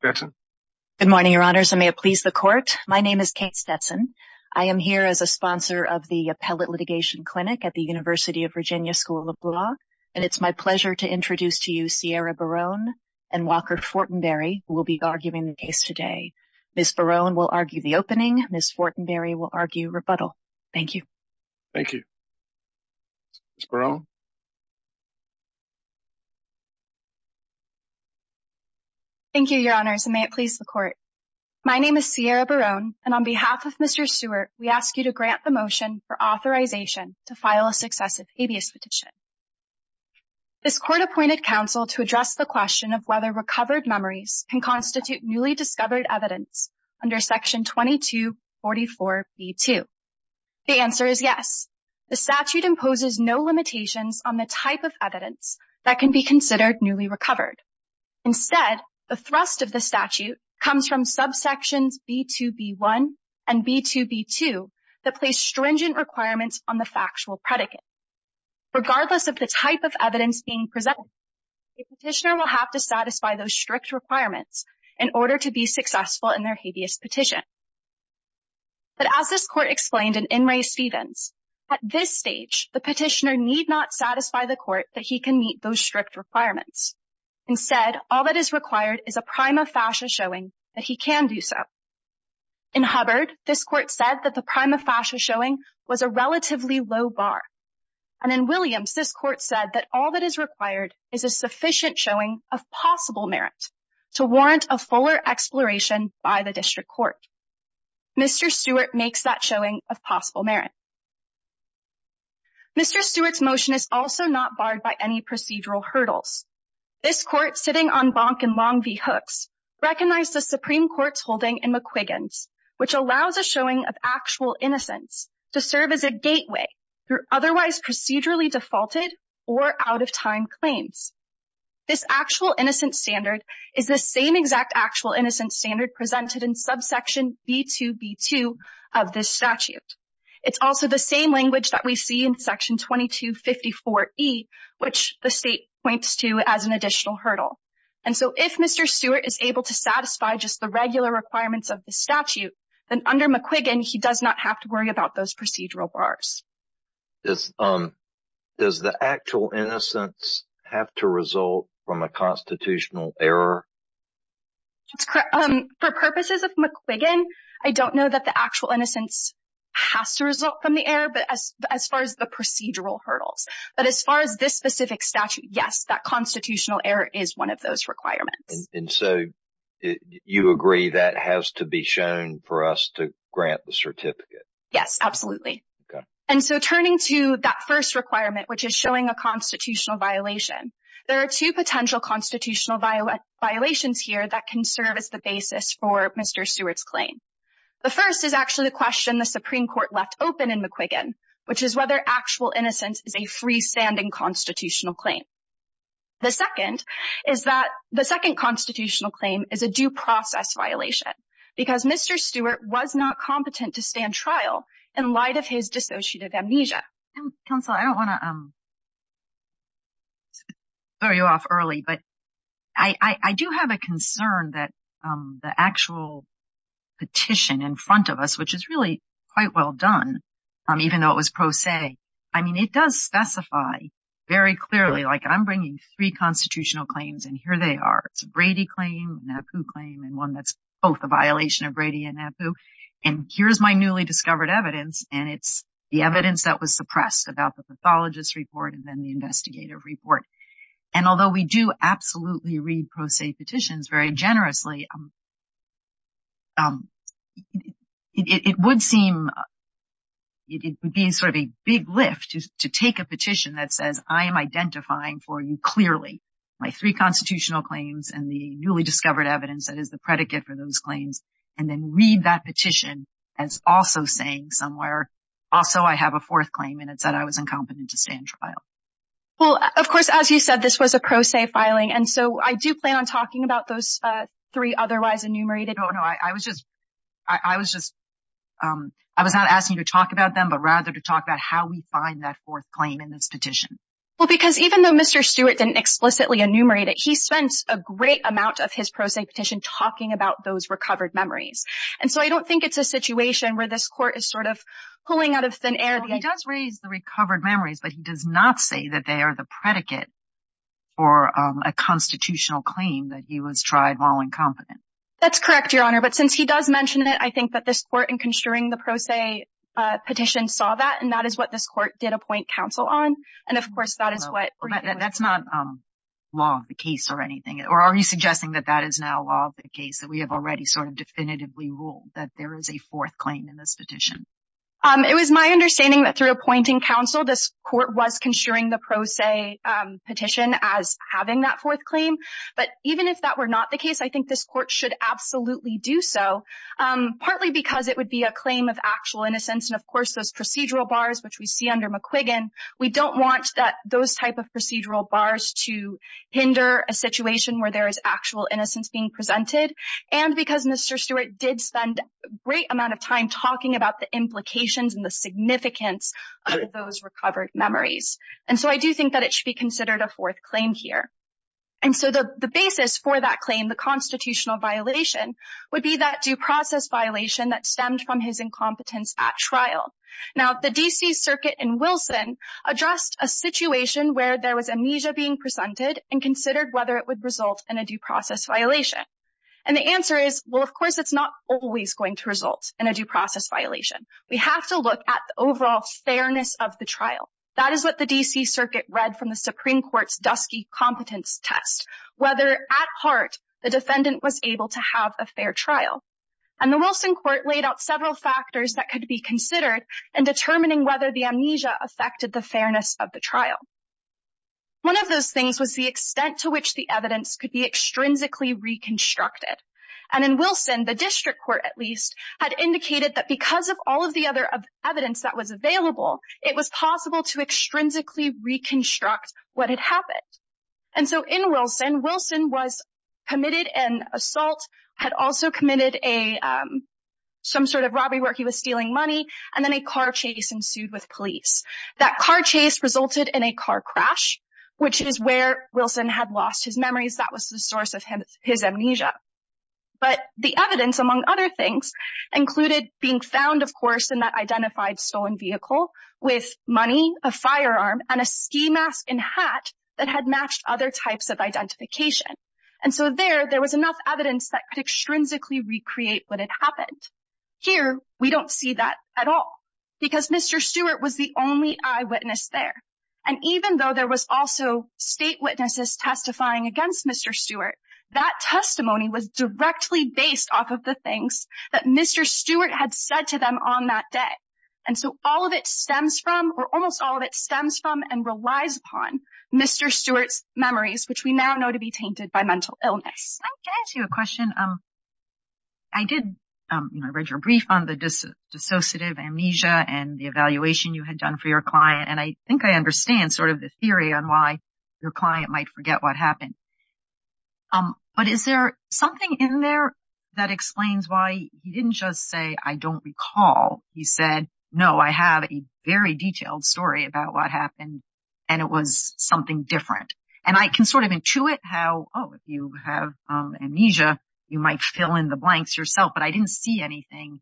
Good morning, your honors. I may have pleased the court. My name is Kate Stetson. I am here as a sponsor of the Appellate Litigation Clinic at the University of Virginia School of Law, and it's my pleasure to introduce to you, Sierra Barone and Walker Fortenberry, who will be arguing the case today. Ms. Barone will argue the opening. Ms. Fortenberry will argue rebuttal. Thank you. Thank you. Ms. Barone. Thank you, your honors. And may it please the court. My name is Sierra Barone, and on behalf of Mr. Stewart, we ask you to grant the motion for authorization to file a successive habeas petition. This court appointed counsel to address the question of whether recovered memories can constitute newly discovered evidence under section 2244B2. The answer is yes. The statute imposes no limitations on the type of evidence that can be considered newly recovered. Instead, the thrust of the statute comes from subsections B2B1 and B2B2 that place stringent requirements on the factual predicate. Regardless of the type of evidence being presented, the petitioner will have to satisfy those strict requirements in order to be successful in their habeas petition. But as this court explained in In re Stevens, at this stage, the petitioner need not satisfy the court that he can meet those strict requirements, instead, all that is required is a prime of fascia showing that he can do so. In Hubbard, this court said that the prime of fascia showing was a relatively low bar. And in Williams, this court said that all that is required is a sufficient showing of possible merit to warrant a fuller exploration by the district court. Mr. Stewart makes that showing of possible merit. Mr. Stewart's motion is also not barred by any procedural hurdles. This court sitting on Bonk and Longview Hooks recognized the Supreme Court's holding in McQuiggan's, which allows a showing of actual innocence to serve as a gateway through otherwise procedurally defaulted or out of time claims. This actual innocent standard is the same exact actual innocent standard presented in subsection B2B2 of this statute. It's also the same language that we see in section 2254E, which the state points to as an additional hurdle. And so if Mr. Stewart is able to satisfy just the regular requirements of the statute, then under McQuiggan, he does not have to worry about those procedural bars. Does the actual innocence have to result from a constitutional error? For purposes of McQuiggan, I don't know that the actual innocence has to result from the error, but as far as the procedural hurdles, but as far as this specific statute, yes, that constitutional error is one of those requirements. And so you agree that has to be shown for us to grant the certificate? Yes, absolutely. And so turning to that first requirement, which is showing a constitutional violation, there are two potential constitutional violations here that can serve as the basis for Mr. Stewart's claim. The first is actually the question the Supreme Court left open in McQuiggan, which is whether actual innocence is a freestanding constitutional claim. The second is that the second constitutional claim is a due process violation because Mr. Stewart was not competent to stand trial in light of his dissociative amnesia. Counsel, I don't want to throw you off early, but. I do have a concern that the actual petition in front of us, which is really quite well done, even though it was pro se, I mean, it does specify very clearly, like I'm bringing three constitutional claims and here they are. It's a Brady claim, a NAPU claim, and one that's both a violation of Brady and NAPU. And here's my newly discovered evidence. And it's the evidence that was suppressed about the pathologist report and then the investigative report. And although we do absolutely read pro se petitions very generously. It would seem it would be sort of a big lift to take a petition that says, I am identifying for you clearly my three constitutional claims and the newly discovered evidence that is the predicate for those claims, and then read that petition as also saying somewhere, also, I have a fourth claim and it said I was incompetent to stand trial. Well, of course, as you said, this was a pro se filing. And so I do plan on talking about those three otherwise enumerated. No, no. I was just, I was just, I was not asking you to talk about them, but rather to talk about how we find that fourth claim in this petition. Well, because even though Mr. Stewart didn't explicitly enumerate it, he spent a great amount of his pro se petition talking about those recovered memories. And so I don't think it's a situation where this court is sort of pulling out of thin air. He does raise the recovered memories, but he does not say that they are the predicate for a constitutional claim that he was tried while incompetent. That's correct, Your Honor. But since he does mention it, I think that this court in construing the pro se petition saw that, and that is what this court did appoint counsel on. And of course, that is what- That's not law of the case or anything, or are you suggesting that that is now law of the case, that we have already sort of definitively ruled that there is a fourth claim in this petition? It was my understanding that through appointing counsel, this court was construing the pro se petition as having that fourth claim, but even if that were not the case, I think this court should absolutely do so. Partly because it would be a claim of actual innocence. And of course, those procedural bars, which we see under McQuiggan, we don't want those type of procedural bars to hinder a situation where there is actual innocence being presented. And because Mr. did spend a great amount of time talking about the implications and the significance of those recovered memories. And so I do think that it should be considered a fourth claim here. And so the basis for that claim, the constitutional violation would be that due process violation that stemmed from his incompetence at trial. Now, the DC circuit in Wilson addressed a situation where there was amnesia being presented and considered whether it would result in a due process violation. And the answer is, well, of course, it's not always going to result in a due process violation. We have to look at the overall fairness of the trial. That is what the DC circuit read from the Supreme Court's dusky competence test, whether at heart the defendant was able to have a fair trial. And the Wilson court laid out several factors that could be considered in determining whether the amnesia affected the fairness of the trial. One of those things was the extent to which the evidence could be reconstructed. And in Wilson, the district court, at least, had indicated that because of all of the other evidence that was available, it was possible to extrinsically reconstruct what had happened. And so in Wilson, Wilson was committed an assault, had also committed some sort of robbery where he was stealing money, and then a car chase ensued with police. That car chase resulted in a car crash, which is where Wilson had lost his amnesia. But the evidence, among other things, included being found, of course, in that identified stolen vehicle with money, a firearm and a ski mask and hat that had matched other types of identification. And so there, there was enough evidence that could extrinsically recreate what had happened. Here, we don't see that at all because Mr. Stewart was the only eyewitness there. And even though there was also state witnesses testifying against Mr. Stewart, that testimony was directly based off of the things that Mr. Stewart had said to them on that day. And so all of it stems from or almost all of it stems from and relies upon Mr. Stewart's memories, which we now know to be tainted by mental illness. Can I ask you a question? I did read your brief on the dissociative amnesia and the evaluation you had done for your client, and I think I understand sort of the theory on why your client might forget what happened. But is there something in there that explains why he didn't just say, I don't recall? He said, no, I have a very detailed story about what happened and it was something different. And I can sort of intuit how, oh, if you have amnesia, you might fill in the blanks yourself. But I didn't see anything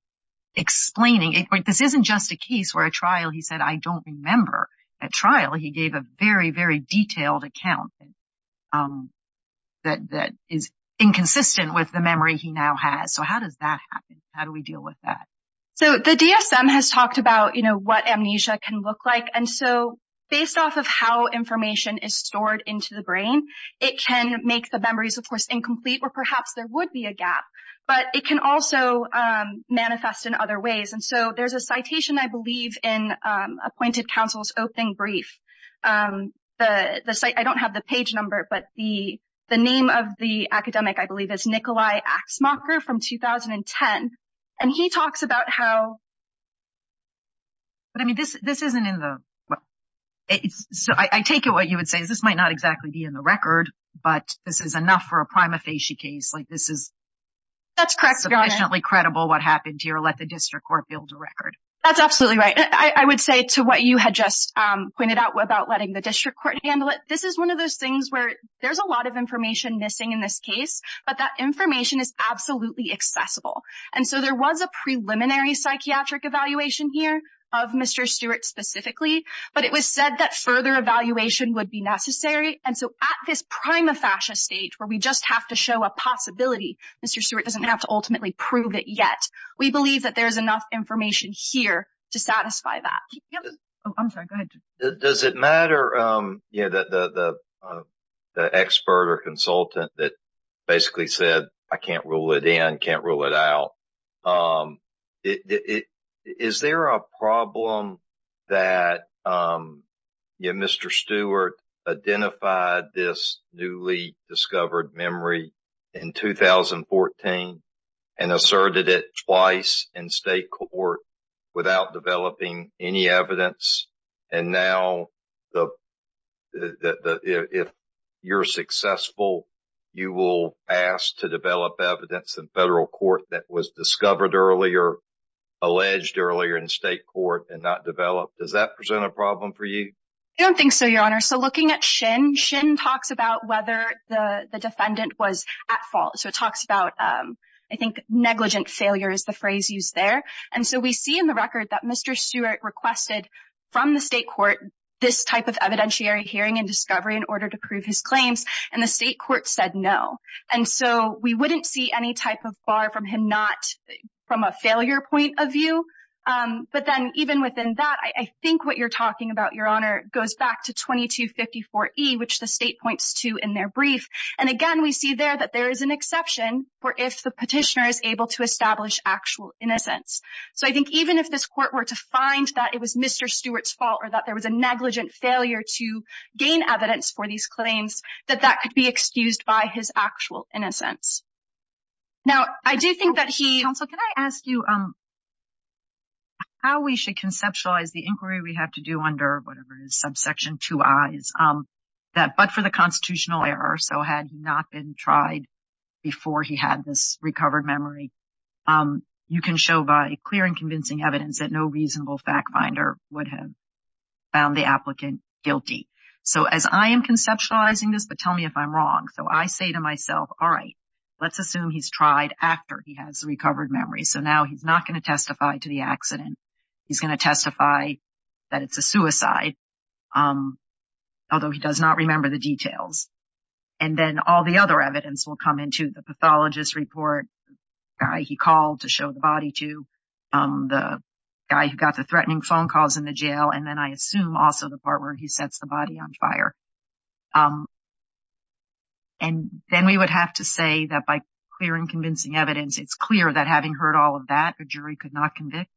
explaining it. This isn't just a case where a trial, he said, I don't remember a trial. He gave a very, very detailed account that is inconsistent with the memory he now has. So how does that happen? How do we deal with that? So the DSM has talked about what amnesia can look like. And so based off of how information is stored into the brain, it can make the memories, of course, incomplete or perhaps there would be a gap, but it can also manifest in other ways. And so there's a citation, I believe, in appointed counsel's opening brief. I don't have the page number, but the the name of the academic, I believe, is Nikolai Aksmakar from 2010. And he talks about how. But I mean, this isn't in the book, so I take it what you would say is this might not exactly be in the record, but this is enough for a prima facie case like this That's correct, Your Honor. It's sufficiently credible what happened here. Let the district court build a record. That's absolutely right. I would say to what you had just pointed out about letting the district court handle it. This is one of those things where there's a lot of information missing in this case, but that information is absolutely accessible. And so there was a preliminary psychiatric evaluation here of Mr. Stewart specifically, but it was said that further evaluation would be necessary. And so at this prima facie stage where we just have to show a possibility, Mr. Stewart doesn't have to ultimately prove it yet. We believe that there is enough information here to satisfy that. Oh, I'm sorry. Go ahead. Does it matter that the expert or consultant that basically said, I can't rule it in, can't rule it out. Is there a problem that Mr. Stewart identified this newly discovered memory in 2014 and asserted it twice in state court without developing any evidence? And now if you're successful, you will ask to develop evidence in federal court that was discovered earlier, alleged earlier in state court and not developed. Does that present a problem for you? I don't think so, your honor. So looking at Shin, Shin talks about whether the defendant was at fault. So it talks about, I think, negligent failure is the phrase used there. And so we see in the record that Mr. Stewart requested from the state court this type of evidentiary hearing and discovery in order to prove his claims. And the state court said no. And so we wouldn't see any type of bar from him, not from a failure point of view. But then even within that, I think what you're talking about, your honor, goes back to 2254E, which the state points to in their brief. And again, we see there that there is an exception for if the petitioner is able to establish actual innocence. So I think even if this court were to find that it was Mr. Stewart's fault or that there was a negligent failure to gain evidence for these actual innocence. Now, I do think that he... Counsel, can I ask you how we should conceptualize the inquiry we have to do under whatever it is, subsection two I's, that but for the constitutional error, so had not been tried before he had this recovered memory, you can show by clear and convincing evidence that no reasonable fact finder would have found the applicant guilty. So as I am conceptualizing this, but tell me if I'm wrong. So I say to myself, all right, let's assume he's tried after he has recovered memory. So now he's not going to testify to the accident. He's going to testify that it's a suicide, although he does not remember the details. And then all the other evidence will come into the pathologist report, the guy he called to show the body to, the guy who got the threatening phone calls in the jail. And then I assume also the part where he sets the body on fire. And then we would have to say that by clear and convincing evidence, it's clear that having heard all of that, a jury could not convict.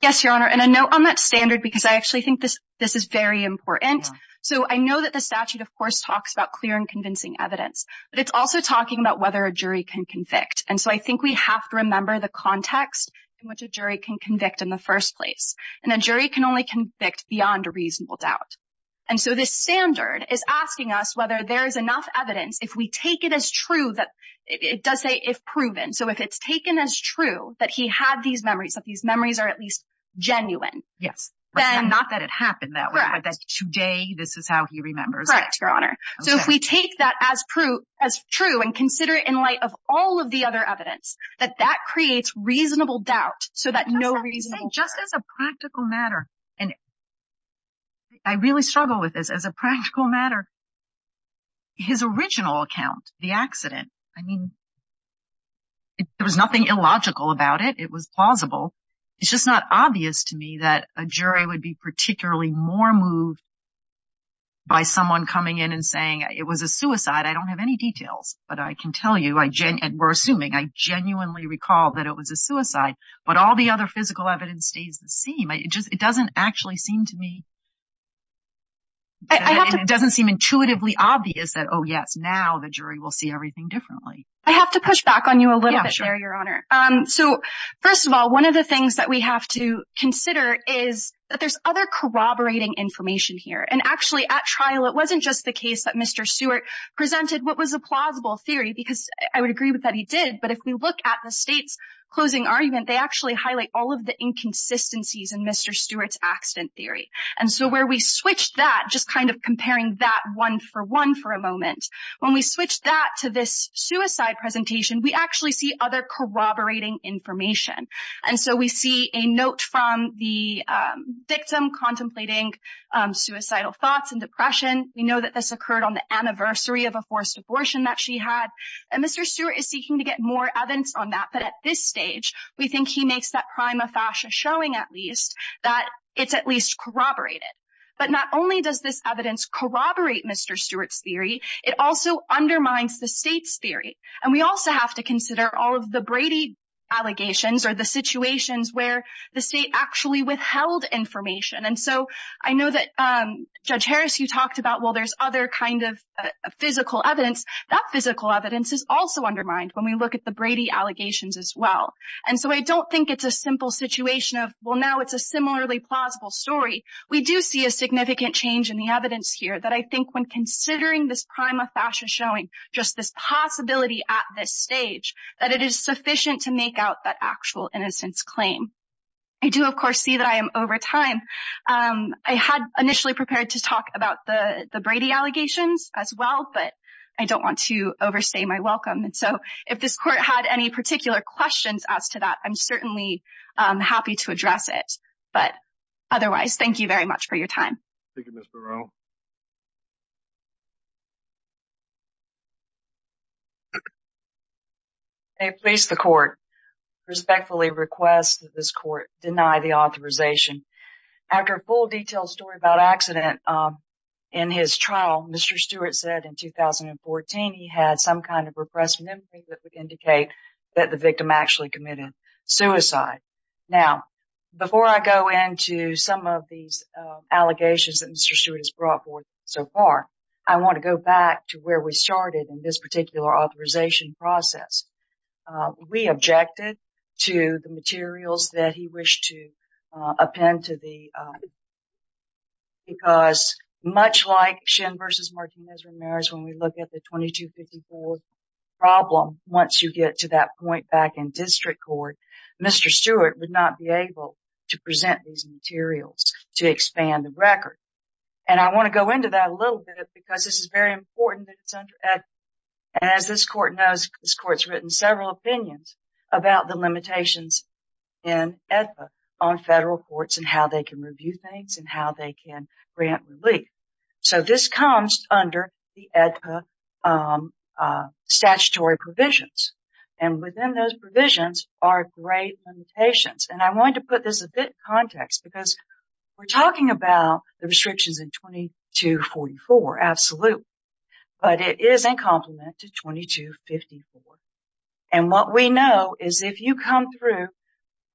Yes, Your Honor. And I know on that standard, because I actually think this is very important. So I know that the statute, of course, talks about clear and convincing evidence, but it's also talking about whether a jury can convict. And so I think we have to remember the context in which a jury can convict in the first place. And a jury can only convict beyond a reasonable doubt. And so this standard is asking us whether there is enough evidence. If we take it as true that it does say if proven. So if it's taken as true that he had these memories, that these memories are at least genuine. Yes. And not that it happened that way, but that today this is how he remembers. Correct, Your Honor. So if we take that as true and consider it in light of all of the other evidence, that that creates reasonable doubt so that no reason just as a practical matter. And I really struggle with this as a practical matter. His original account, the accident, I mean, there was nothing illogical about it. It was plausible. It's just not obvious to me that a jury would be particularly more moved by someone coming in and saying it was a suicide. I don't have any details, but I can tell you, and we're assuming, I genuinely recall that it was a suicide. But all the other physical evidence stays the same. It doesn't actually seem to me. It doesn't seem intuitively obvious that, oh, yes, now the jury will see everything differently. I have to push back on you a little bit, Your Honor. So first of all, one of the things that we have to consider is that there's other corroborating information here. And actually at trial, it wasn't just the case that Mr. Seward presented what was a plausible theory, because I would agree with that he did. But if we look at the state's closing argument, they actually highlight all of the inconsistencies in Mr. Seward's accident theory. And so where we switch that, just kind of comparing that one for one for a moment, when we switch that to this suicide presentation, we actually see other corroborating information. And so we see a note from the victim contemplating suicidal thoughts and depression. We know that this occurred on the anniversary of a forced abortion that she had. And Mr. Seward is seeking to get more evidence on that. But at this stage, we think he makes that prima facie showing at least that it's at least corroborated. But not only does this evidence corroborate Mr. Seward's theory, it also undermines the state's theory. And we also have to consider all of the Brady allegations or the situations where the state actually withheld information. And so I know that, Judge Harris, you talked about, well, there's other kind of physical evidence. That physical evidence is also undermined when we look at the Brady allegations as well. And so I don't think it's a simple situation of, well, now it's a similarly plausible story. We do see a significant change in the evidence here that I think when considering this prima facie showing just this possibility at this stage, that it is sufficient to make out that actual innocence claim. I do, of course, see that I am over time. I had initially prepared to talk about the Brady allegations as well, but I don't want to overstay my welcome. And so if this court had any particular questions as to that, I'm certainly happy to address it. But otherwise, thank you very much for your time. Thank you, Ms. Burrell. May it please the court, I respectfully request that this court deny the authorization. After a full detailed story about an accident in his trial, Mr. Stewart said in 2014 he had some kind of repressed memory that would indicate that the victim actually committed suicide. Now, before I go into some of these allegations that Mr. Stewart has brought forth so far, I want to go back to where we started in this particular authorization process. We objected to the materials that he wished to append to the, because much like Shin versus Martinez-Ramirez, when we look at the 2254 problem, once you get to that point back in 2014, Mr. Stewart would not be able to present these materials to expand the record. And I want to go into that a little bit because this is very important. And as this court knows, this court's written several opinions about the limitations in AEDPA on federal courts and how they can review things and how they can grant relief. So this comes under the AEDPA statutory provisions. And within those provisions are great limitations. And I wanted to put this a bit in context because we're talking about the restrictions in 2244, absolutely. But it is in complement to 2254. And what we know is if you come through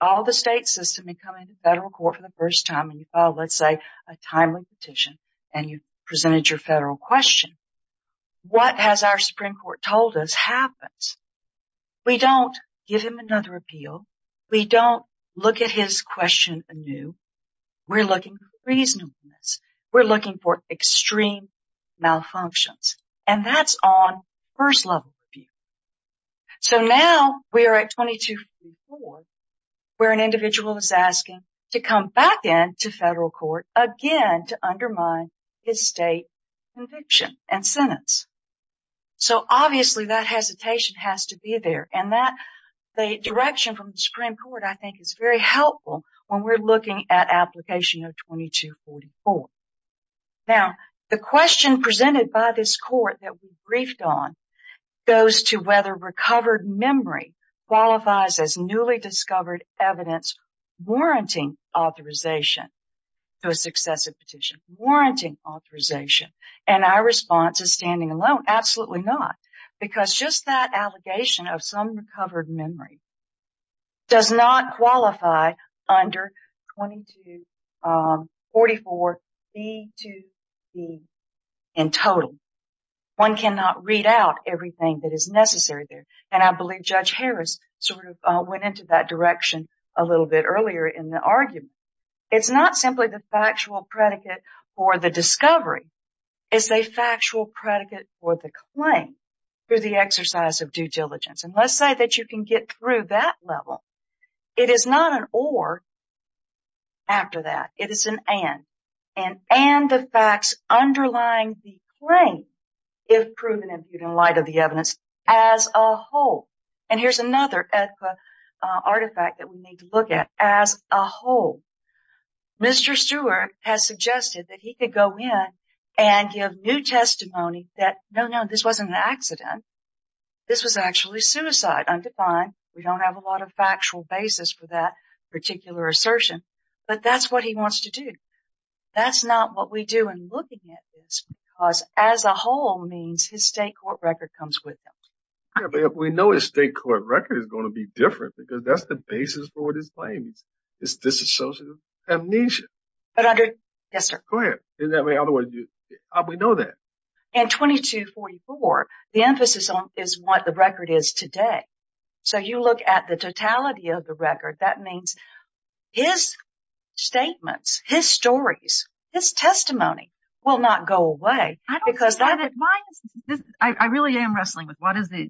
all the state system and come into federal court for the first time and you file, let's say, a timely petition and you presented your federal question, what has our Supreme Court told us happens? We don't give him another appeal. We don't look at his question anew. We're looking for reasonableness. We're looking for extreme malfunctions. And that's on first level review. So now we are at 2254 where an individual is asking to come back in to federal court again to undermine his state conviction and sentence. So obviously, that hesitation has to be there. And the direction from the Supreme Court, I think, is very helpful when we're looking at application of 2244. Now, the question presented by this court that we briefed on goes to whether recovered memory qualifies as newly discovered evidence warranting authorization to a successive petition, warranting authorization. And our response is standing alone. Absolutely not. Because just that allegation of some recovered memory does not qualify under 2244B2C in total. One cannot read out everything that is necessary there. And I believe Judge Harris sort of went into that direction a little bit earlier in the argument. It's not simply the factual predicate for the discovery. It's a factual predicate for the claim through the exercise of due diligence. And let's say that you can get through that level. It is not an or after that. It is an and. An and of facts underlying the claim if proven in light of the evidence as a whole. And here's another artifact that we need to look at as a whole. Mr. Stewart has suggested that he could go in and give new testimony that, no, no, this wasn't an accident. This was actually suicide undefined. We don't have a lot of factual basis for that particular assertion. But that's what he wants to do. That's not what we do in looking at this because as a whole means his state court record comes with him. We know his state court record is going to be different because that's the basis for what his claim is. It's disassociative amnesia. But I do. Yes, sir. Go ahead. I mean, otherwise, we know that. And 2244, the emphasis on is what the record is today. So you look at the totality of the record. That means his statements, his stories, his testimony will not go away because that it I really am wrestling with what is the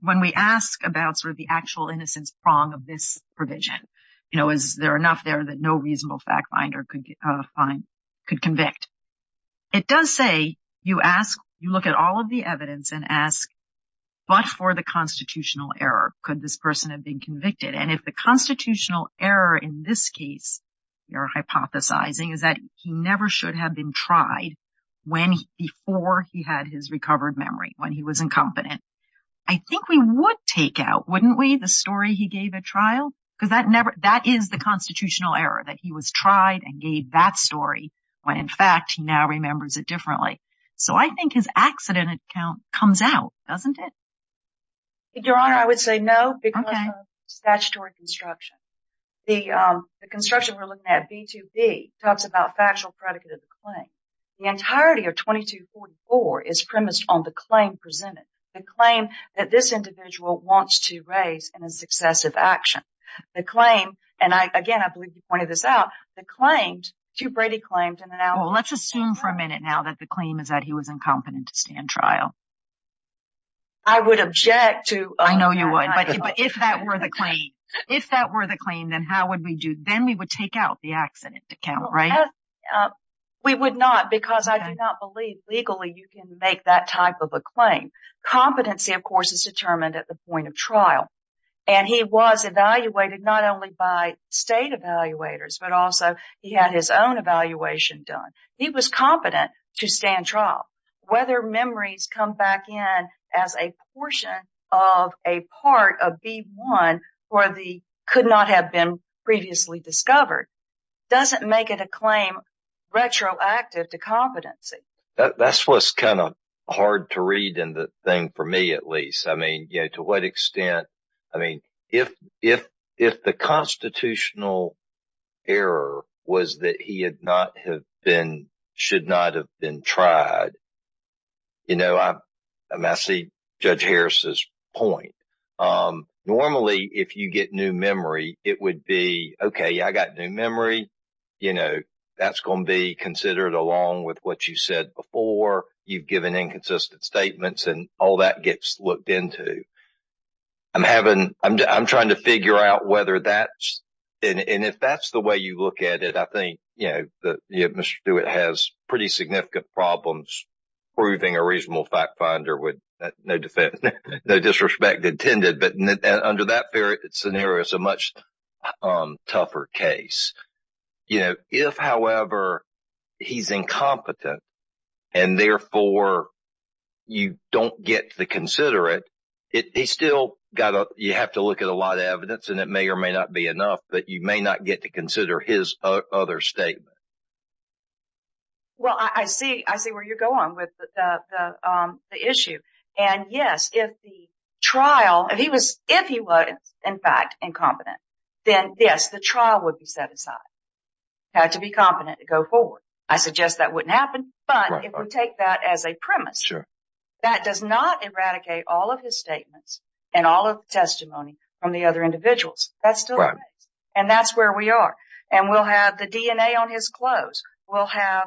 when we ask about sort of the actual innocence prong of this provision, you know, is there enough there that no reasonable fact finder could convict? It does say you ask, you look at all of the evidence and ask, but for the constitutional error, could this person have been convicted? And if the constitutional error in this case you're hypothesizing is that he never should have been tried when before he had his recovered memory, when he was incompetent. I think we would take out, wouldn't we, the story he gave at trial? Because that never that is the constitutional error that he was tried and gave that story when, in fact, he now remembers it differently. So I think his accident account comes out, doesn't it? Your Honor, I would say no because of statutory construction. The construction we're looking at, B2B, talks about factual predicate of the claim. The entirety of 2244 is premised on the claim presented. The claim that this individual wants to raise in a successive action. The claim, and again, I believe you pointed this out. The claim to Brady claimed in an hour. Well, let's assume for a minute now that the claim is that he was incompetent to stand trial. I would object to. I know you would. But if that were the claim, if that were the claim, then how would we do? Then we would take out the accident account, right? We would not because I do not believe legally you can make that type of a claim. Competency, of course, is determined at the point of trial. And he was evaluated not only by state evaluators, but also he had his own evaluation done. He was competent to stand trial. Whether memories come back in as a portion of a part of B1 or the could not have been previously discovered doesn't make it a claim retroactive to competency. That's what's kind of hard to read in the thing for me, at least. I mean, you know, to what extent? I mean, if if if the constitutional error was that he had not have been should not have been tried. You know, I see Judge Harris's point. Normally, if you get new memory, it would be OK. I got new memory. You know, that's going to be considered along with what you said before. You've given inconsistent statements and all that gets looked into. I'm having I'm trying to figure out whether that's and if that's the way you look at it, I think, you know, Mr. Stewart has pretty significant problems proving a reasonable fact finder with no defense, no disrespect intended. But under that scenario, it's a much tougher case. You know, if, however, he's incompetent and therefore you don't get to consider it, it is still got to you have to look at a lot of evidence and it may or may not be enough, but you may not get to consider his other statement. Well, I see I see where you're going with the issue. And yes, if the trial, if he was if he was, in fact, incompetent, then, yes, the trial would be set aside to be competent to go forward. I suggest that wouldn't happen. But if we take that as a premise, that does not eradicate all of his statements and all of the testimony from the other individuals. That's right. And that's where we are. And we'll have the DNA on his clothes. We'll have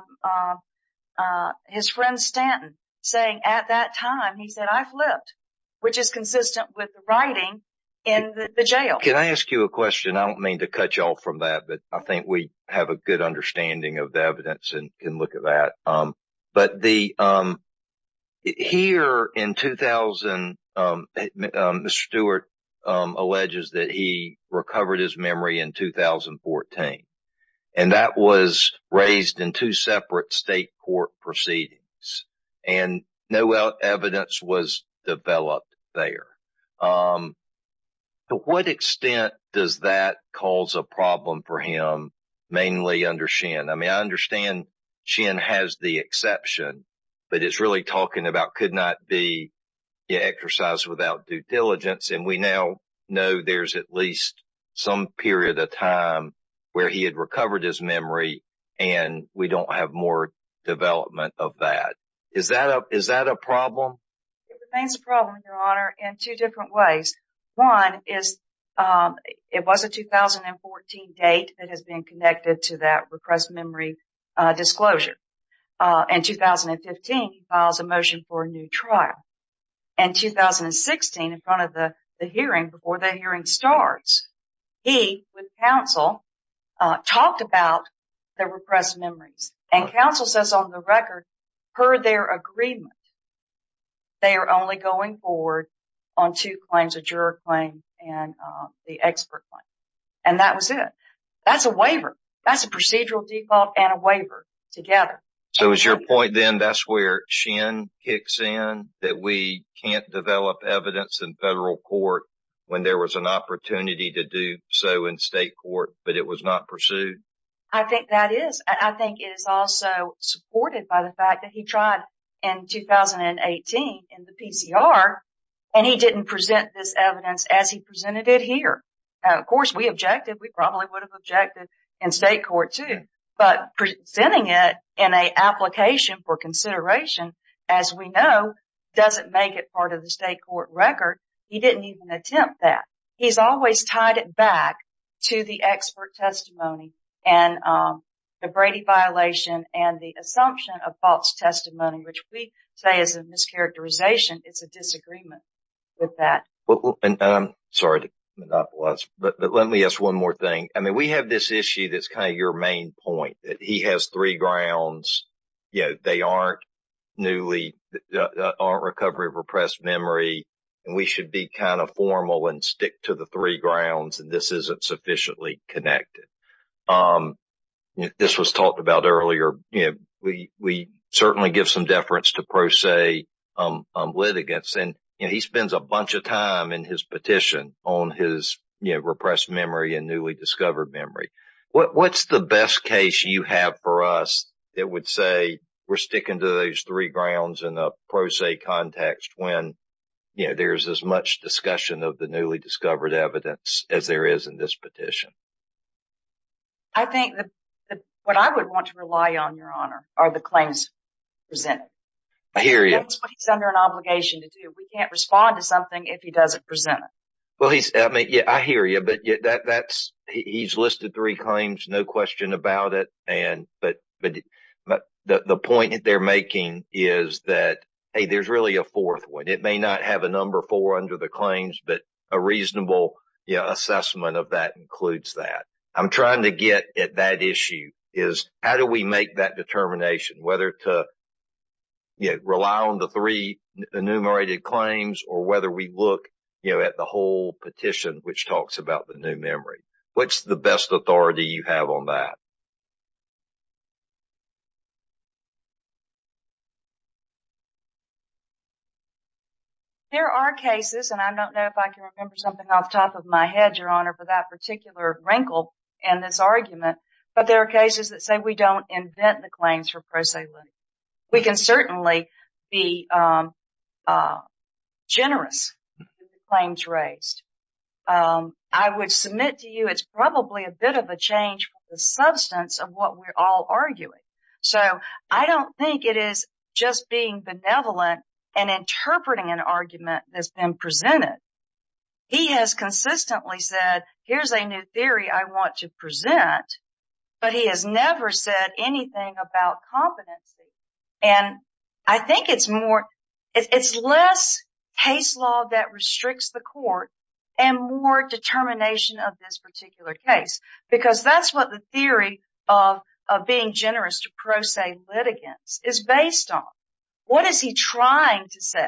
his friend Stanton saying at that time, he said, I've lived, which is consistent with the writing in the jail. Can I ask you a question? I don't mean to cut you off from that, but I think we have a good understanding of the evidence and can look at that. But the here in 2000, Mr. Stewart alleges that he recovered his memory in 2014 and that was raised in two separate state court proceedings and no evidence was developed there. To what extent does that cause a problem for him? Mainly under Shin, I mean, I understand Shin has the exception, but it's really talking about could not be exercised without due diligence. And we now know there's at least some period of time where he had recovered his memory and we don't have more development of that. Is that a problem? It remains a problem, Your Honor, in two different ways. One is, it was a 2014 date that has been connected to that repressed memory disclosure. In 2015, he files a motion for a new trial. In 2016, in front of the hearing, before the hearing starts, he, with counsel, talked about the repressed memories. And counsel says on the record, per their agreement, they are only going forward on two claims, a juror claim and the expert claim. And that was it. That's a waiver. That's a procedural default and a waiver together. So is your point then that's where Shin kicks in, that we can't develop evidence in federal court when there was an opportunity to do so in state court, but it was not pursued? I think that is. I think it is also supported by the fact that he tried in 2018 in the PCR and he didn't present this evidence as he presented it here. Of course, we objected. We probably would have objected in state court too. But presenting it in an application for consideration, as we know, doesn't make it part of the state court record. He didn't even attempt that. He's always tied it back to the expert testimony and the Brady violation and the assumption of false testimony, which we say is a mischaracterization. It's a disagreement with that. Sorry to monopolize, but let me ask one more thing. I mean, we have this issue that's kind of your main point, that he has three grounds. They aren't recovery of repressed memory. And we should be kind of formal and stick to the three grounds. And this isn't sufficiently connected. This was talked about earlier. We certainly give some deference to pro se litigants. And he spends a bunch of time in his petition on his repressed memory and newly discovered memory. What's the best case you have for us that would say we're sticking to those three grounds in a pro se context when there's as much discussion of the newly discovered evidence as there is in this petition? I think that what I would want to rely on, Your Honor, are the claims presented. I hear you. That's what he's under an obligation to do. We can't respond to something if he doesn't present it. Well, I hear you, but he's listed three claims, no question about it. And but the point that they're making is that, hey, there's really a fourth one. It may not have a number four under the claims, but a reasonable assessment of that includes that. I'm trying to get at that issue is how do we make that determination, whether to rely on the three enumerated claims or whether we look at the whole petition, which talks about the new memory? What's the best authority you have on that? There are cases, and I don't know if I can remember something off the top of my head, for that particular wrinkle in this argument, but there are cases that say we don't invent the claims for proselytics. We can certainly be generous with the claims raised. I would submit to you it's probably a bit of a change from the substance of what we're all arguing. So I don't think it is just being benevolent and interpreting an argument that's been presented. He has consistently said, here's a new theory I want to present, but he has never said anything about competency. And I think it's more it's less case law that restricts the court and more determination of this particular case, because that's what the theory of being generous to pro se litigants is based on. What is he trying to say?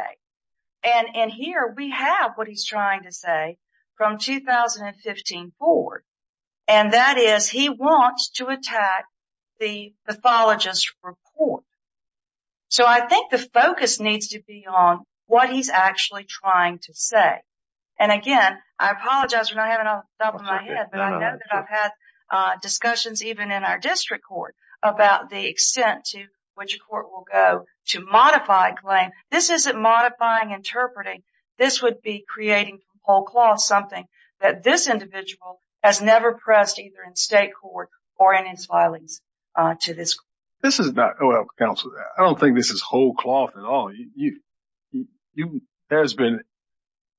And here we have what he's trying to say from 2015 forward. And that is he wants to attack the pathologist report. So I think the focus needs to be on what he's actually trying to say. And again, I apologize for not having it off the top of my head, but I know that I've had discussions even in our district court about the extent to which a court will go to modify a claim. This isn't modifying, interpreting. This would be creating whole cloth, something that this individual has never pressed either in state court or in his filings to this court. This is not, counsel, I don't think this is whole cloth at all. There's been,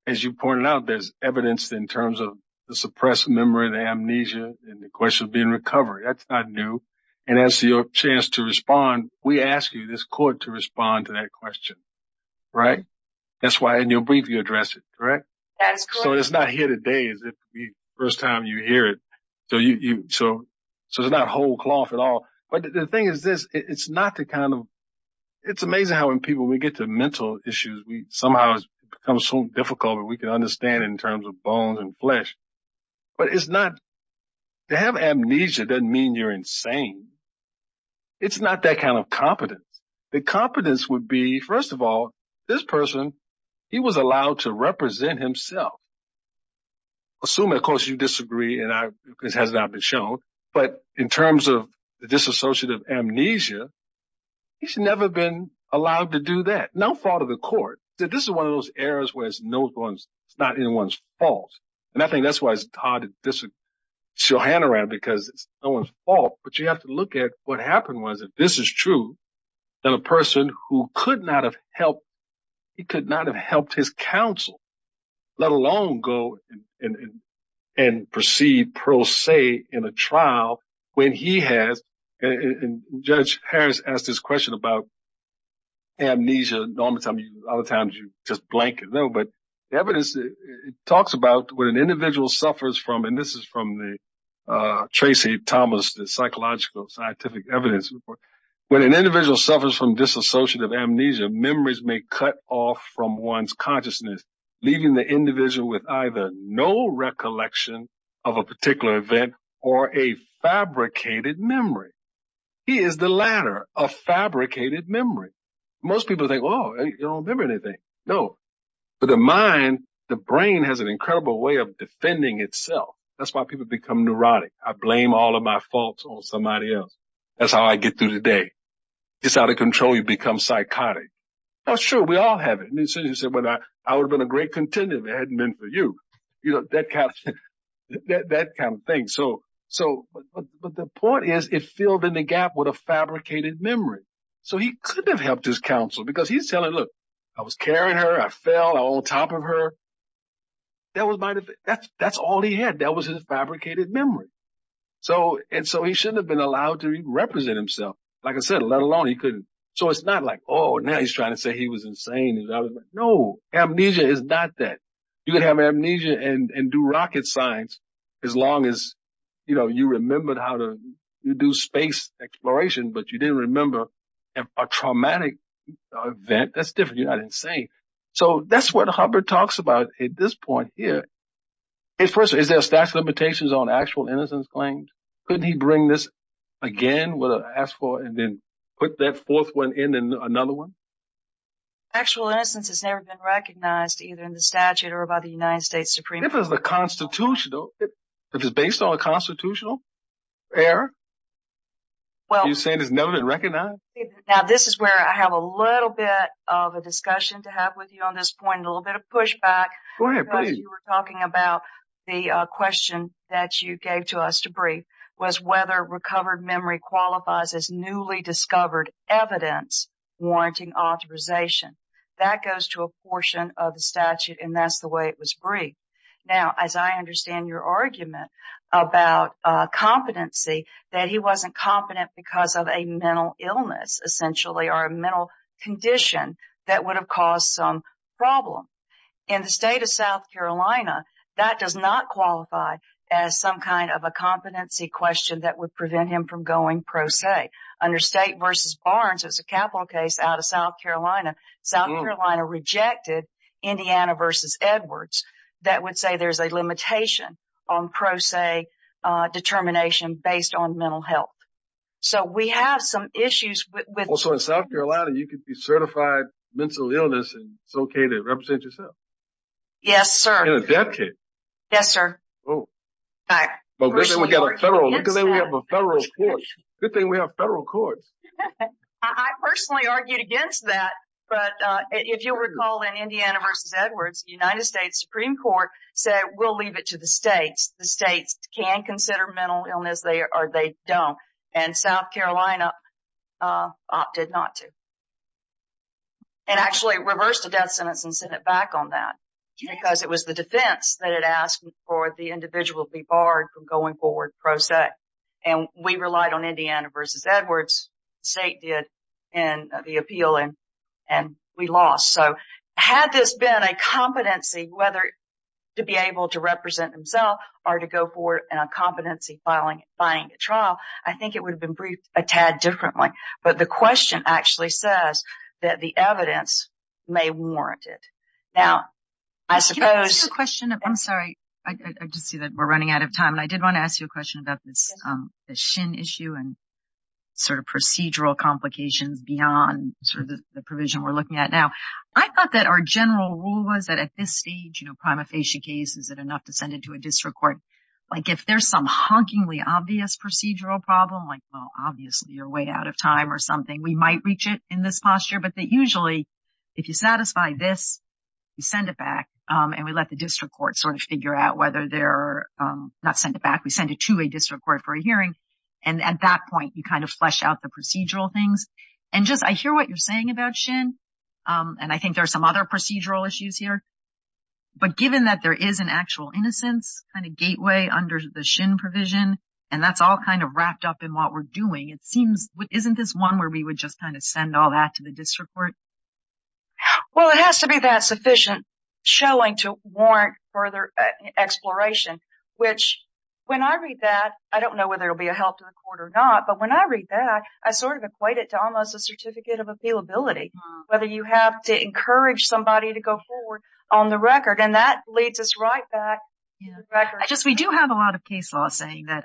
as you pointed out, there's evidence in terms of the suppressed memory, the amnesia, and the question of being recovered. That's not new. And as your chance to respond, we ask you, this court, to respond to that question. Right? That's why in your brief, you address it, correct? That's correct. So it's not here today as if the first time you hear it. So it's not whole cloth at all. But the thing is this, it's not the kind of, it's amazing how when people, when we get to mental issues, we somehow it becomes so difficult that we can understand in terms of bones and flesh. But it's not, to have amnesia doesn't mean you're insane. It's not that kind of competence. The competence would be, first of all, this person, he was allowed to represent himself. Assuming, of course, you disagree, and this has not been shown. But in terms of the disassociative amnesia, he's never been allowed to do that. No fault of the court. This is one of those areas where it's no one's, it's not anyone's fault. And I think that's why it's hard to disassociate your hand around because it's no one's fault. But you have to look at what happened was, if this is true, that a person who could not have helped, he could not have helped his counsel, let alone go and proceed pro se in a trial when he has, and Judge Harris asked this question about amnesia, a lot of times you just blank it. But the evidence talks about what an individual suffers from. This is from the Tracy Thomas, the psychological scientific evidence report. When an individual suffers from disassociative amnesia, memories may cut off from one's consciousness, leaving the individual with either no recollection of a particular event or a fabricated memory. He is the latter, a fabricated memory. Most people think, oh, I don't remember anything. No. But the mind, the brain has an incredible way of defending itself. That's why people become neurotic. I blame all of my faults on somebody else. That's how I get through the day. It's out of control. You become psychotic. Oh, sure. We all have it. I would have been a great contender if it hadn't been for you, that kind of thing. But the point is, it filled in the gap with a fabricated memory. So he couldn't have helped his counsel because he's telling, look, I was carrying her. I fell on top of her. That was my defense. That's all he had. That was his fabricated memory. And so he shouldn't have been allowed to even represent himself. Like I said, let alone he couldn't. So it's not like, oh, now he's trying to say he was insane. No, amnesia is not that. You can have amnesia and do rocket science as long as you remembered how to do space exploration, but you didn't remember a traumatic event. That's different. You're not insane. So that's what Hubbard talks about at this point here. First, is there a statute of limitations on actual innocence claims? Couldn't he bring this again and then put that fourth one in and another one? Actual innocence has never been recognized, either in the statute or by the United States Supreme Court. If it's based on a constitutional error, are you saying it's never been recognized? Now, this is where I have a little bit of a discussion to have with you on this point, a little bit of pushback. You were talking about the question that you gave to us to brief was whether recovered memory qualifies as newly discovered evidence warranting authorization. That goes to a portion of the statute, and that's the way it was briefed. Now, as I understand your argument about competency, that he wasn't competent because of a mental illness, essentially, or a mental condition that would have caused some problem. In the state of South Carolina, that does not qualify as some kind of a competency question that would prevent him from going pro se. Under State v. Barnes, it's a capital case out of South Carolina. South Carolina rejected Indiana v. Edwards. That would say there's a limitation on pro se determination based on mental health. We have some issues with- So, in South Carolina, you could be certified mental illness, and it's okay to represent yourself? Yes, sir. In a death case? Yes, sir. Well, good thing we have a federal court. Good thing we have federal courts. I personally argued against that, but if you'll recall in Indiana v. Edwards, the United States Supreme Court said, we'll leave it to the states. The states can consider mental illness, or they don't. South Carolina opted not to, and actually reversed a death sentence and sent it back on that because it was the defense that had asked for the individual to be barred from going forward pro se. We relied on Indiana v. Edwards. State did the appeal, and we lost. Had this been a competency, whether to be able to represent himself or to go forward in a competency-fying trial, I think it would have been briefed a tad differently. But the question actually says that the evidence may warrant it. Now, I suppose- Can I ask you a question? I'm sorry. I just see that we're running out of time. I did want to ask you a question about this SHIN issue and sort of procedural complications beyond the provision we're looking at now. I thought that our general rule was that at this stage, prima facie case, is it enough to send it to a district court? If there's some honkingly obvious procedural problem, like, well, obviously, you're way out of time or something, we might reach it in this posture. But usually, if you satisfy this, you send it back, and we let the district court sort of figure out whether they're- Not send it back. We send it to a district court for a hearing. And at that point, you kind of flesh out the procedural things. And just, I hear what you're saying about SHIN, and I think there are some other procedural issues here. But given that there is an actual innocence kind of gateway under the SHIN provision, and that's all kind of wrapped up in what we're doing, it seems, isn't this one where we would just kind of send all that to the district court? Well, it has to be that sufficient showing to warrant further exploration, which when I read that, I don't know whether it'll be a help to the court or not. But when I read that, I sort of equate it to almost a certificate of appealability. Whether you have to encourage somebody to go forward on the record, and that leads us right back to the record. We do have a lot of case law saying that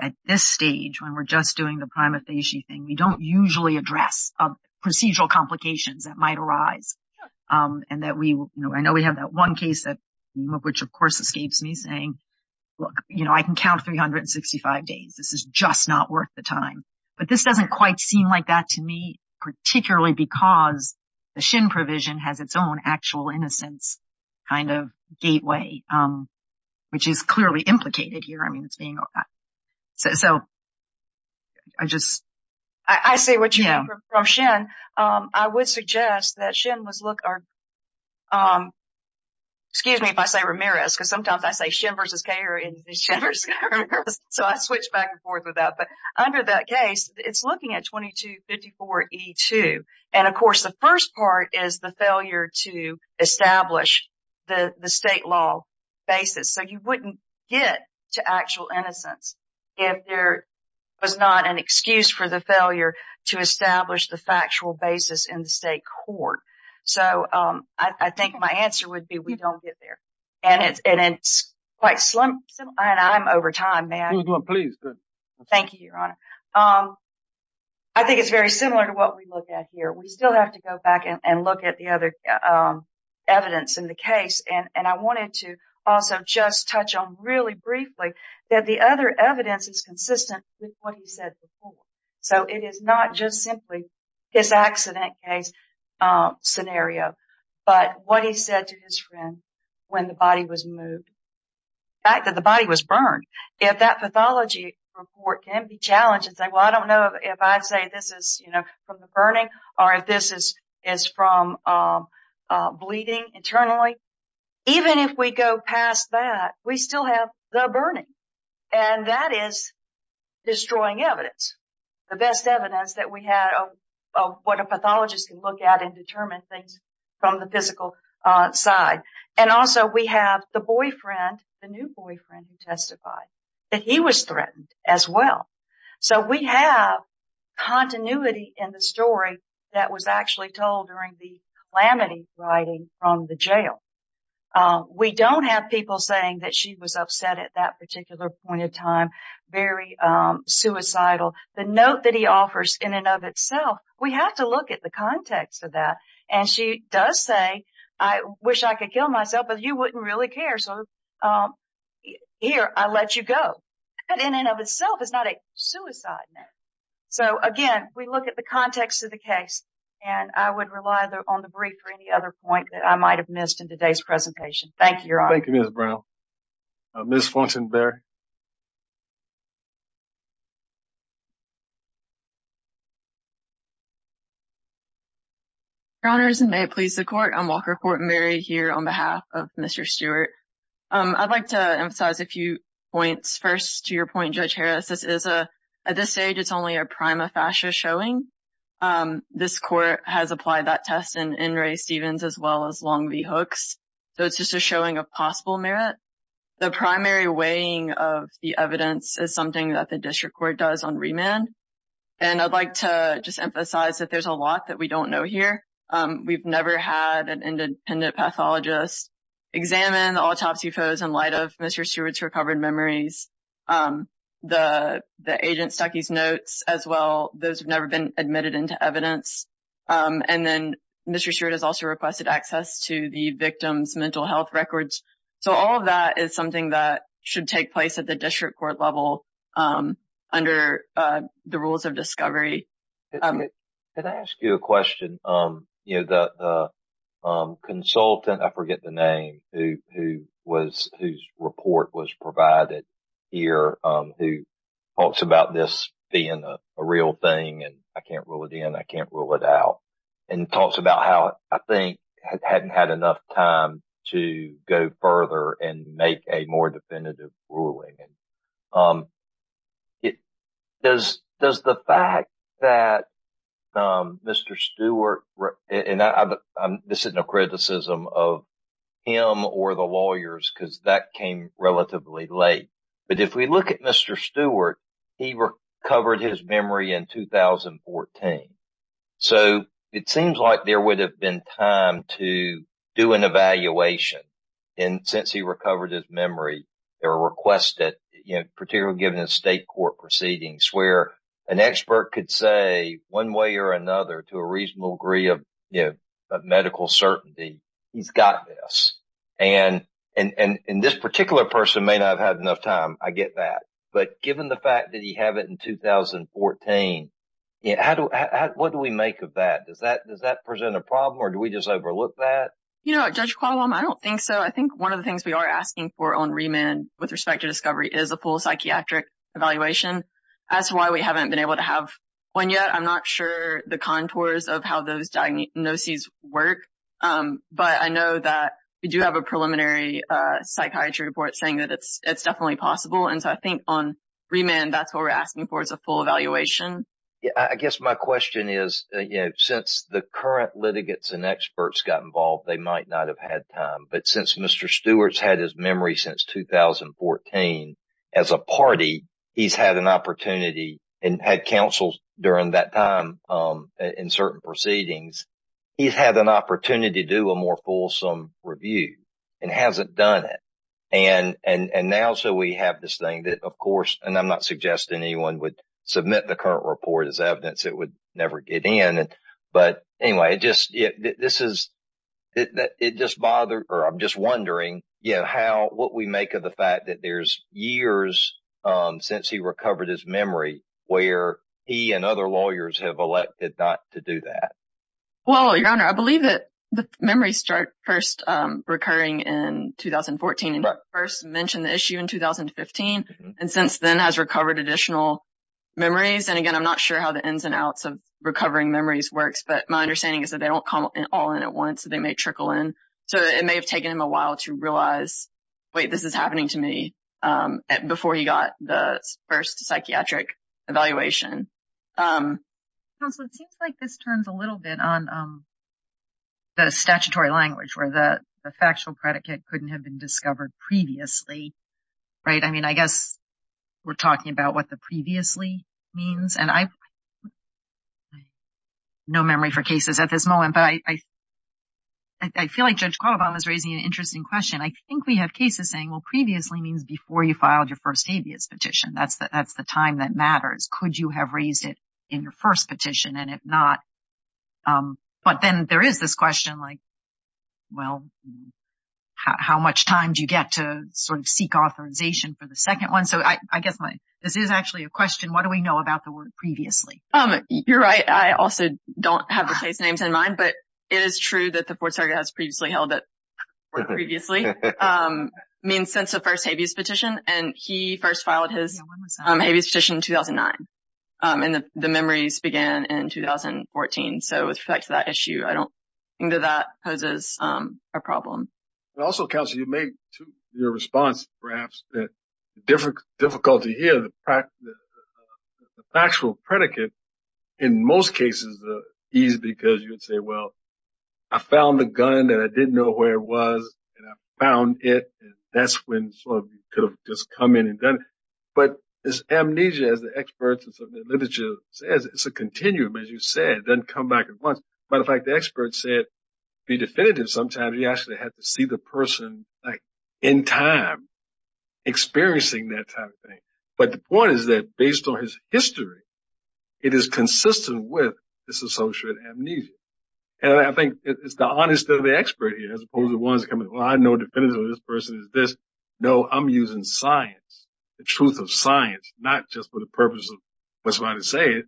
at this stage, when we're just doing the prima facie thing, we don't usually address procedural complications that might arise. And I know we have that one case, which of course escapes me, saying, look, I can count 365 days. This is just not worth the time. But this doesn't quite seem like that to me, particularly because the SHIN provision has its own actual innocence kind of gateway, which is clearly implicated here. I mean, it's being... So I just... I see what you mean from SHIN. I would suggest that SHIN was, look, excuse me if I say Ramirez, because sometimes I say SHIN versus Kay, or SHIN versus Ramirez, so I switch back and forth with that. Under that case, it's looking at 2254E2. And of course, the first part is the failure to establish the state law basis. So you wouldn't get to actual innocence if there was not an excuse for the failure to establish the factual basis in the state court. So I think my answer would be we don't get there. And it's quite slim, and I'm over time. May I? Please, go ahead. Thank you, Your Honor. I think it's very similar to what we look at here. We still have to go back and look at the other evidence in the case. And I wanted to also just touch on really briefly that the other evidence is consistent with what he said before. So it is not just simply his accident case scenario, but what he said to his friend when the body was moved. The fact that the body was burned. If that pathology report can be challenged and say, well, I don't know if I say this is from the burning or if this is from bleeding internally. Even if we go past that, we still have the burning. And that is destroying evidence. The best evidence that we have of what a pathologist can look at and determine things from the physical side. And also we have the boyfriend, the new boyfriend who testified, that he was threatened as well. So we have continuity in the story that was actually told during the calamity riding from the jail. We don't have people saying that she was upset at that particular point in time, very suicidal. The note that he offers in and of itself, we have to look at the context of that. And she does say, I wish I could kill myself, but you wouldn't really care. So here, I'll let you go. But in and of itself is not a suicide note. So again, we look at the context of the case and I would rely on the brief for any other point that I might have missed in today's presentation. Thank you, Your Honor. Thank you, Ms. Brown. Ms. Fulton-Berry. Your Honors, and may it please the Court, I'm Walker Fulton-Berry here on behalf of Mr. Stewart. I'd like to emphasize a few points. First, to your point, Judge Harris, this is a, at this stage, it's only a prima facie showing. This court has applied that test in Ray Stevens as well as Long V. Hooks. So it's just a showing of possible merit. The primary weighing of the evidence is something that the district court does on remand. And I'd like to just emphasize that there's a lot that we don't know here. We've never had an independent pathologist examine the autopsy photos in light of Mr. Stewart's recovered memories. The agent stuck his notes as well. Those have never been admitted into evidence. And then Mr. Stewart has also requested access to the victim's mental health records. So all of that is something that should take place at the district court level under the rules of discovery. Can I ask you a question? The consultant, I forget the name, whose report was provided here who talks about this being a real thing and I can't rule it in, I can't rule it out. And talks about how, I think, hadn't had enough time to go further and make a more definitive ruling. Does the fact that Mr. Stewart, and I'm missing a criticism of him or the lawyers because that came relatively late. But if we look at Mr. Stewart, he recovered his memory in 2014. So it seems like there would have been time to do an evaluation. And since he recovered his memory, there were requests that, particularly given the state court proceedings where an expert could say one way or another to a reasonable degree of medical certainty, he's got this. And this particular person may not have had enough time. I get that. But given the fact that he had it in 2014, what do we make of that? Does that present a problem or do we just overlook that? You know, Judge Qualam, I don't think so. I think one of the things we are asking for on remand with respect to discovery is a full psychiatric evaluation. That's why we haven't been able to have one yet. I'm not sure the contours of how those diagnoses work. But I know that we do have a preliminary psychiatry report saying that it's definitely possible. And so I think on remand, that's what we're asking for is a full evaluation. Yeah, I guess my question is, since the current litigants and experts got involved, they might not have had time. But since Mr. Stewart's had his memory since 2014, as a party, he's had an opportunity and had counsel during that time in certain proceedings. He's had an opportunity to do a more fulsome review and hasn't done it. And now, so we have this thing that, of course, and I'm not suggesting anyone would submit the current report as evidence. It would never get in. But anyway, I'm just wondering what we make of the fact that there's years since he recovered his memory where he and other lawyers have elected not to do that. Well, Your Honor, I believe that the memories start first recurring in 2014 and first mentioned the issue in 2015 and since then has recovered additional memories. And again, I'm not sure how the ins and outs of recovering memories works. But my understanding is that they don't come all in at once. They may trickle in. So it may have taken him a while to realize, wait, this is happening to me before he got the first psychiatric evaluation. Counsel, it seems like this turns a little bit on the statutory language where the factual predicate couldn't have been discovered previously, right? I guess we're talking about what the previously means. And I have no memory for cases at this moment, but I feel like Judge Caldwell is raising an interesting question. I think we have cases saying, well, previously means before you filed your first habeas petition. That's the time that matters. Could you have raised it in your first petition? And if not, but then there is this question like, well, how much time do you get to sort of make authorization for the second one? So I guess this is actually a question. What do we know about the word previously? You're right. I also don't have the case names in mind, but it is true that the fourth circuit has previously held that previously means since the first habeas petition. And he first filed his habeas petition in 2009. And the memories began in 2014. So with respect to that issue, I don't think that that poses a problem. And also, Counselor, you made your response perhaps that the difficulty here, the factual predicate in most cases is because you would say, well, I found the gun and I didn't know where it was and I found it. That's when you could have just come in and done it. But this amnesia, as the experts and some of the literature says, it's a continuum. As you said, it doesn't come back at once. Matter of fact, the experts said be definitive. Sometimes you actually have to see the person in time experiencing that type of thing. But the point is that based on his history, it is consistent with this associated amnesia. And I think it's the honesty of the expert here, as opposed to the ones coming, well, I know definitively this person is this. No, I'm using science, the truth of science, not just for the purpose of what's right to say it.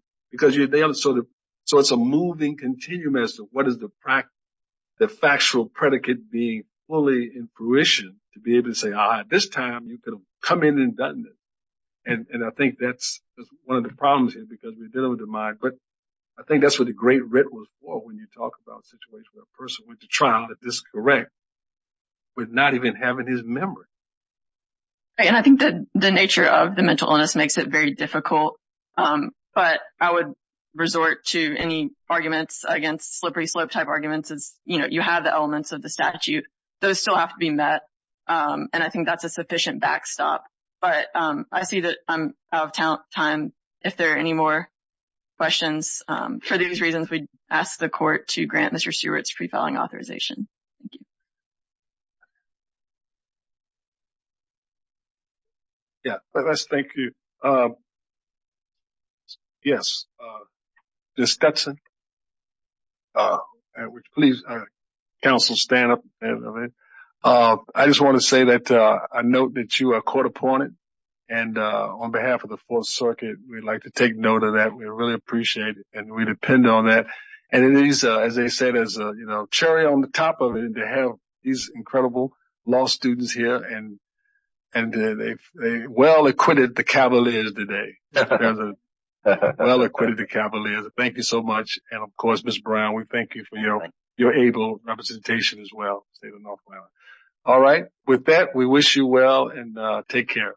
So it's a moving continuum as to what is the factual predicate being fully in fruition to be able to say, all right, this time you could have come in and done it. And I think that's one of the problems here because we're dealing with the mind. But I think that's what the great riddle is for when you talk about a situation where a person went to trial that is correct with not even having his memory. And I think that the nature of the mental illness makes it very difficult. But I would resort to any arguments against slippery slope type arguments is, you know, you have the elements of the statute. Those still have to be met. And I think that's a sufficient backstop. But I see that I'm out of time. If there are any more questions, for these reasons, we ask the court to grant Mr. Stewart's pre-filing authorization. Thank you. Yeah, let's thank you. Yes. Ms. Stetson. Please, counsel, stand up. I just want to say that I note that you are court appointed. And on behalf of the Fourth Circuit, we'd like to take note of that. We really appreciate it. And we depend on that. And it is, as they say, there's a cherry on the top of it to have these incredible law students here. And they well acquitted the Cavaliers today. Well acquitted the Cavaliers. Thank you so much. And of course, Ms. Brown, we thank you for your able representation as well. All right. With that, we wish you well and take care.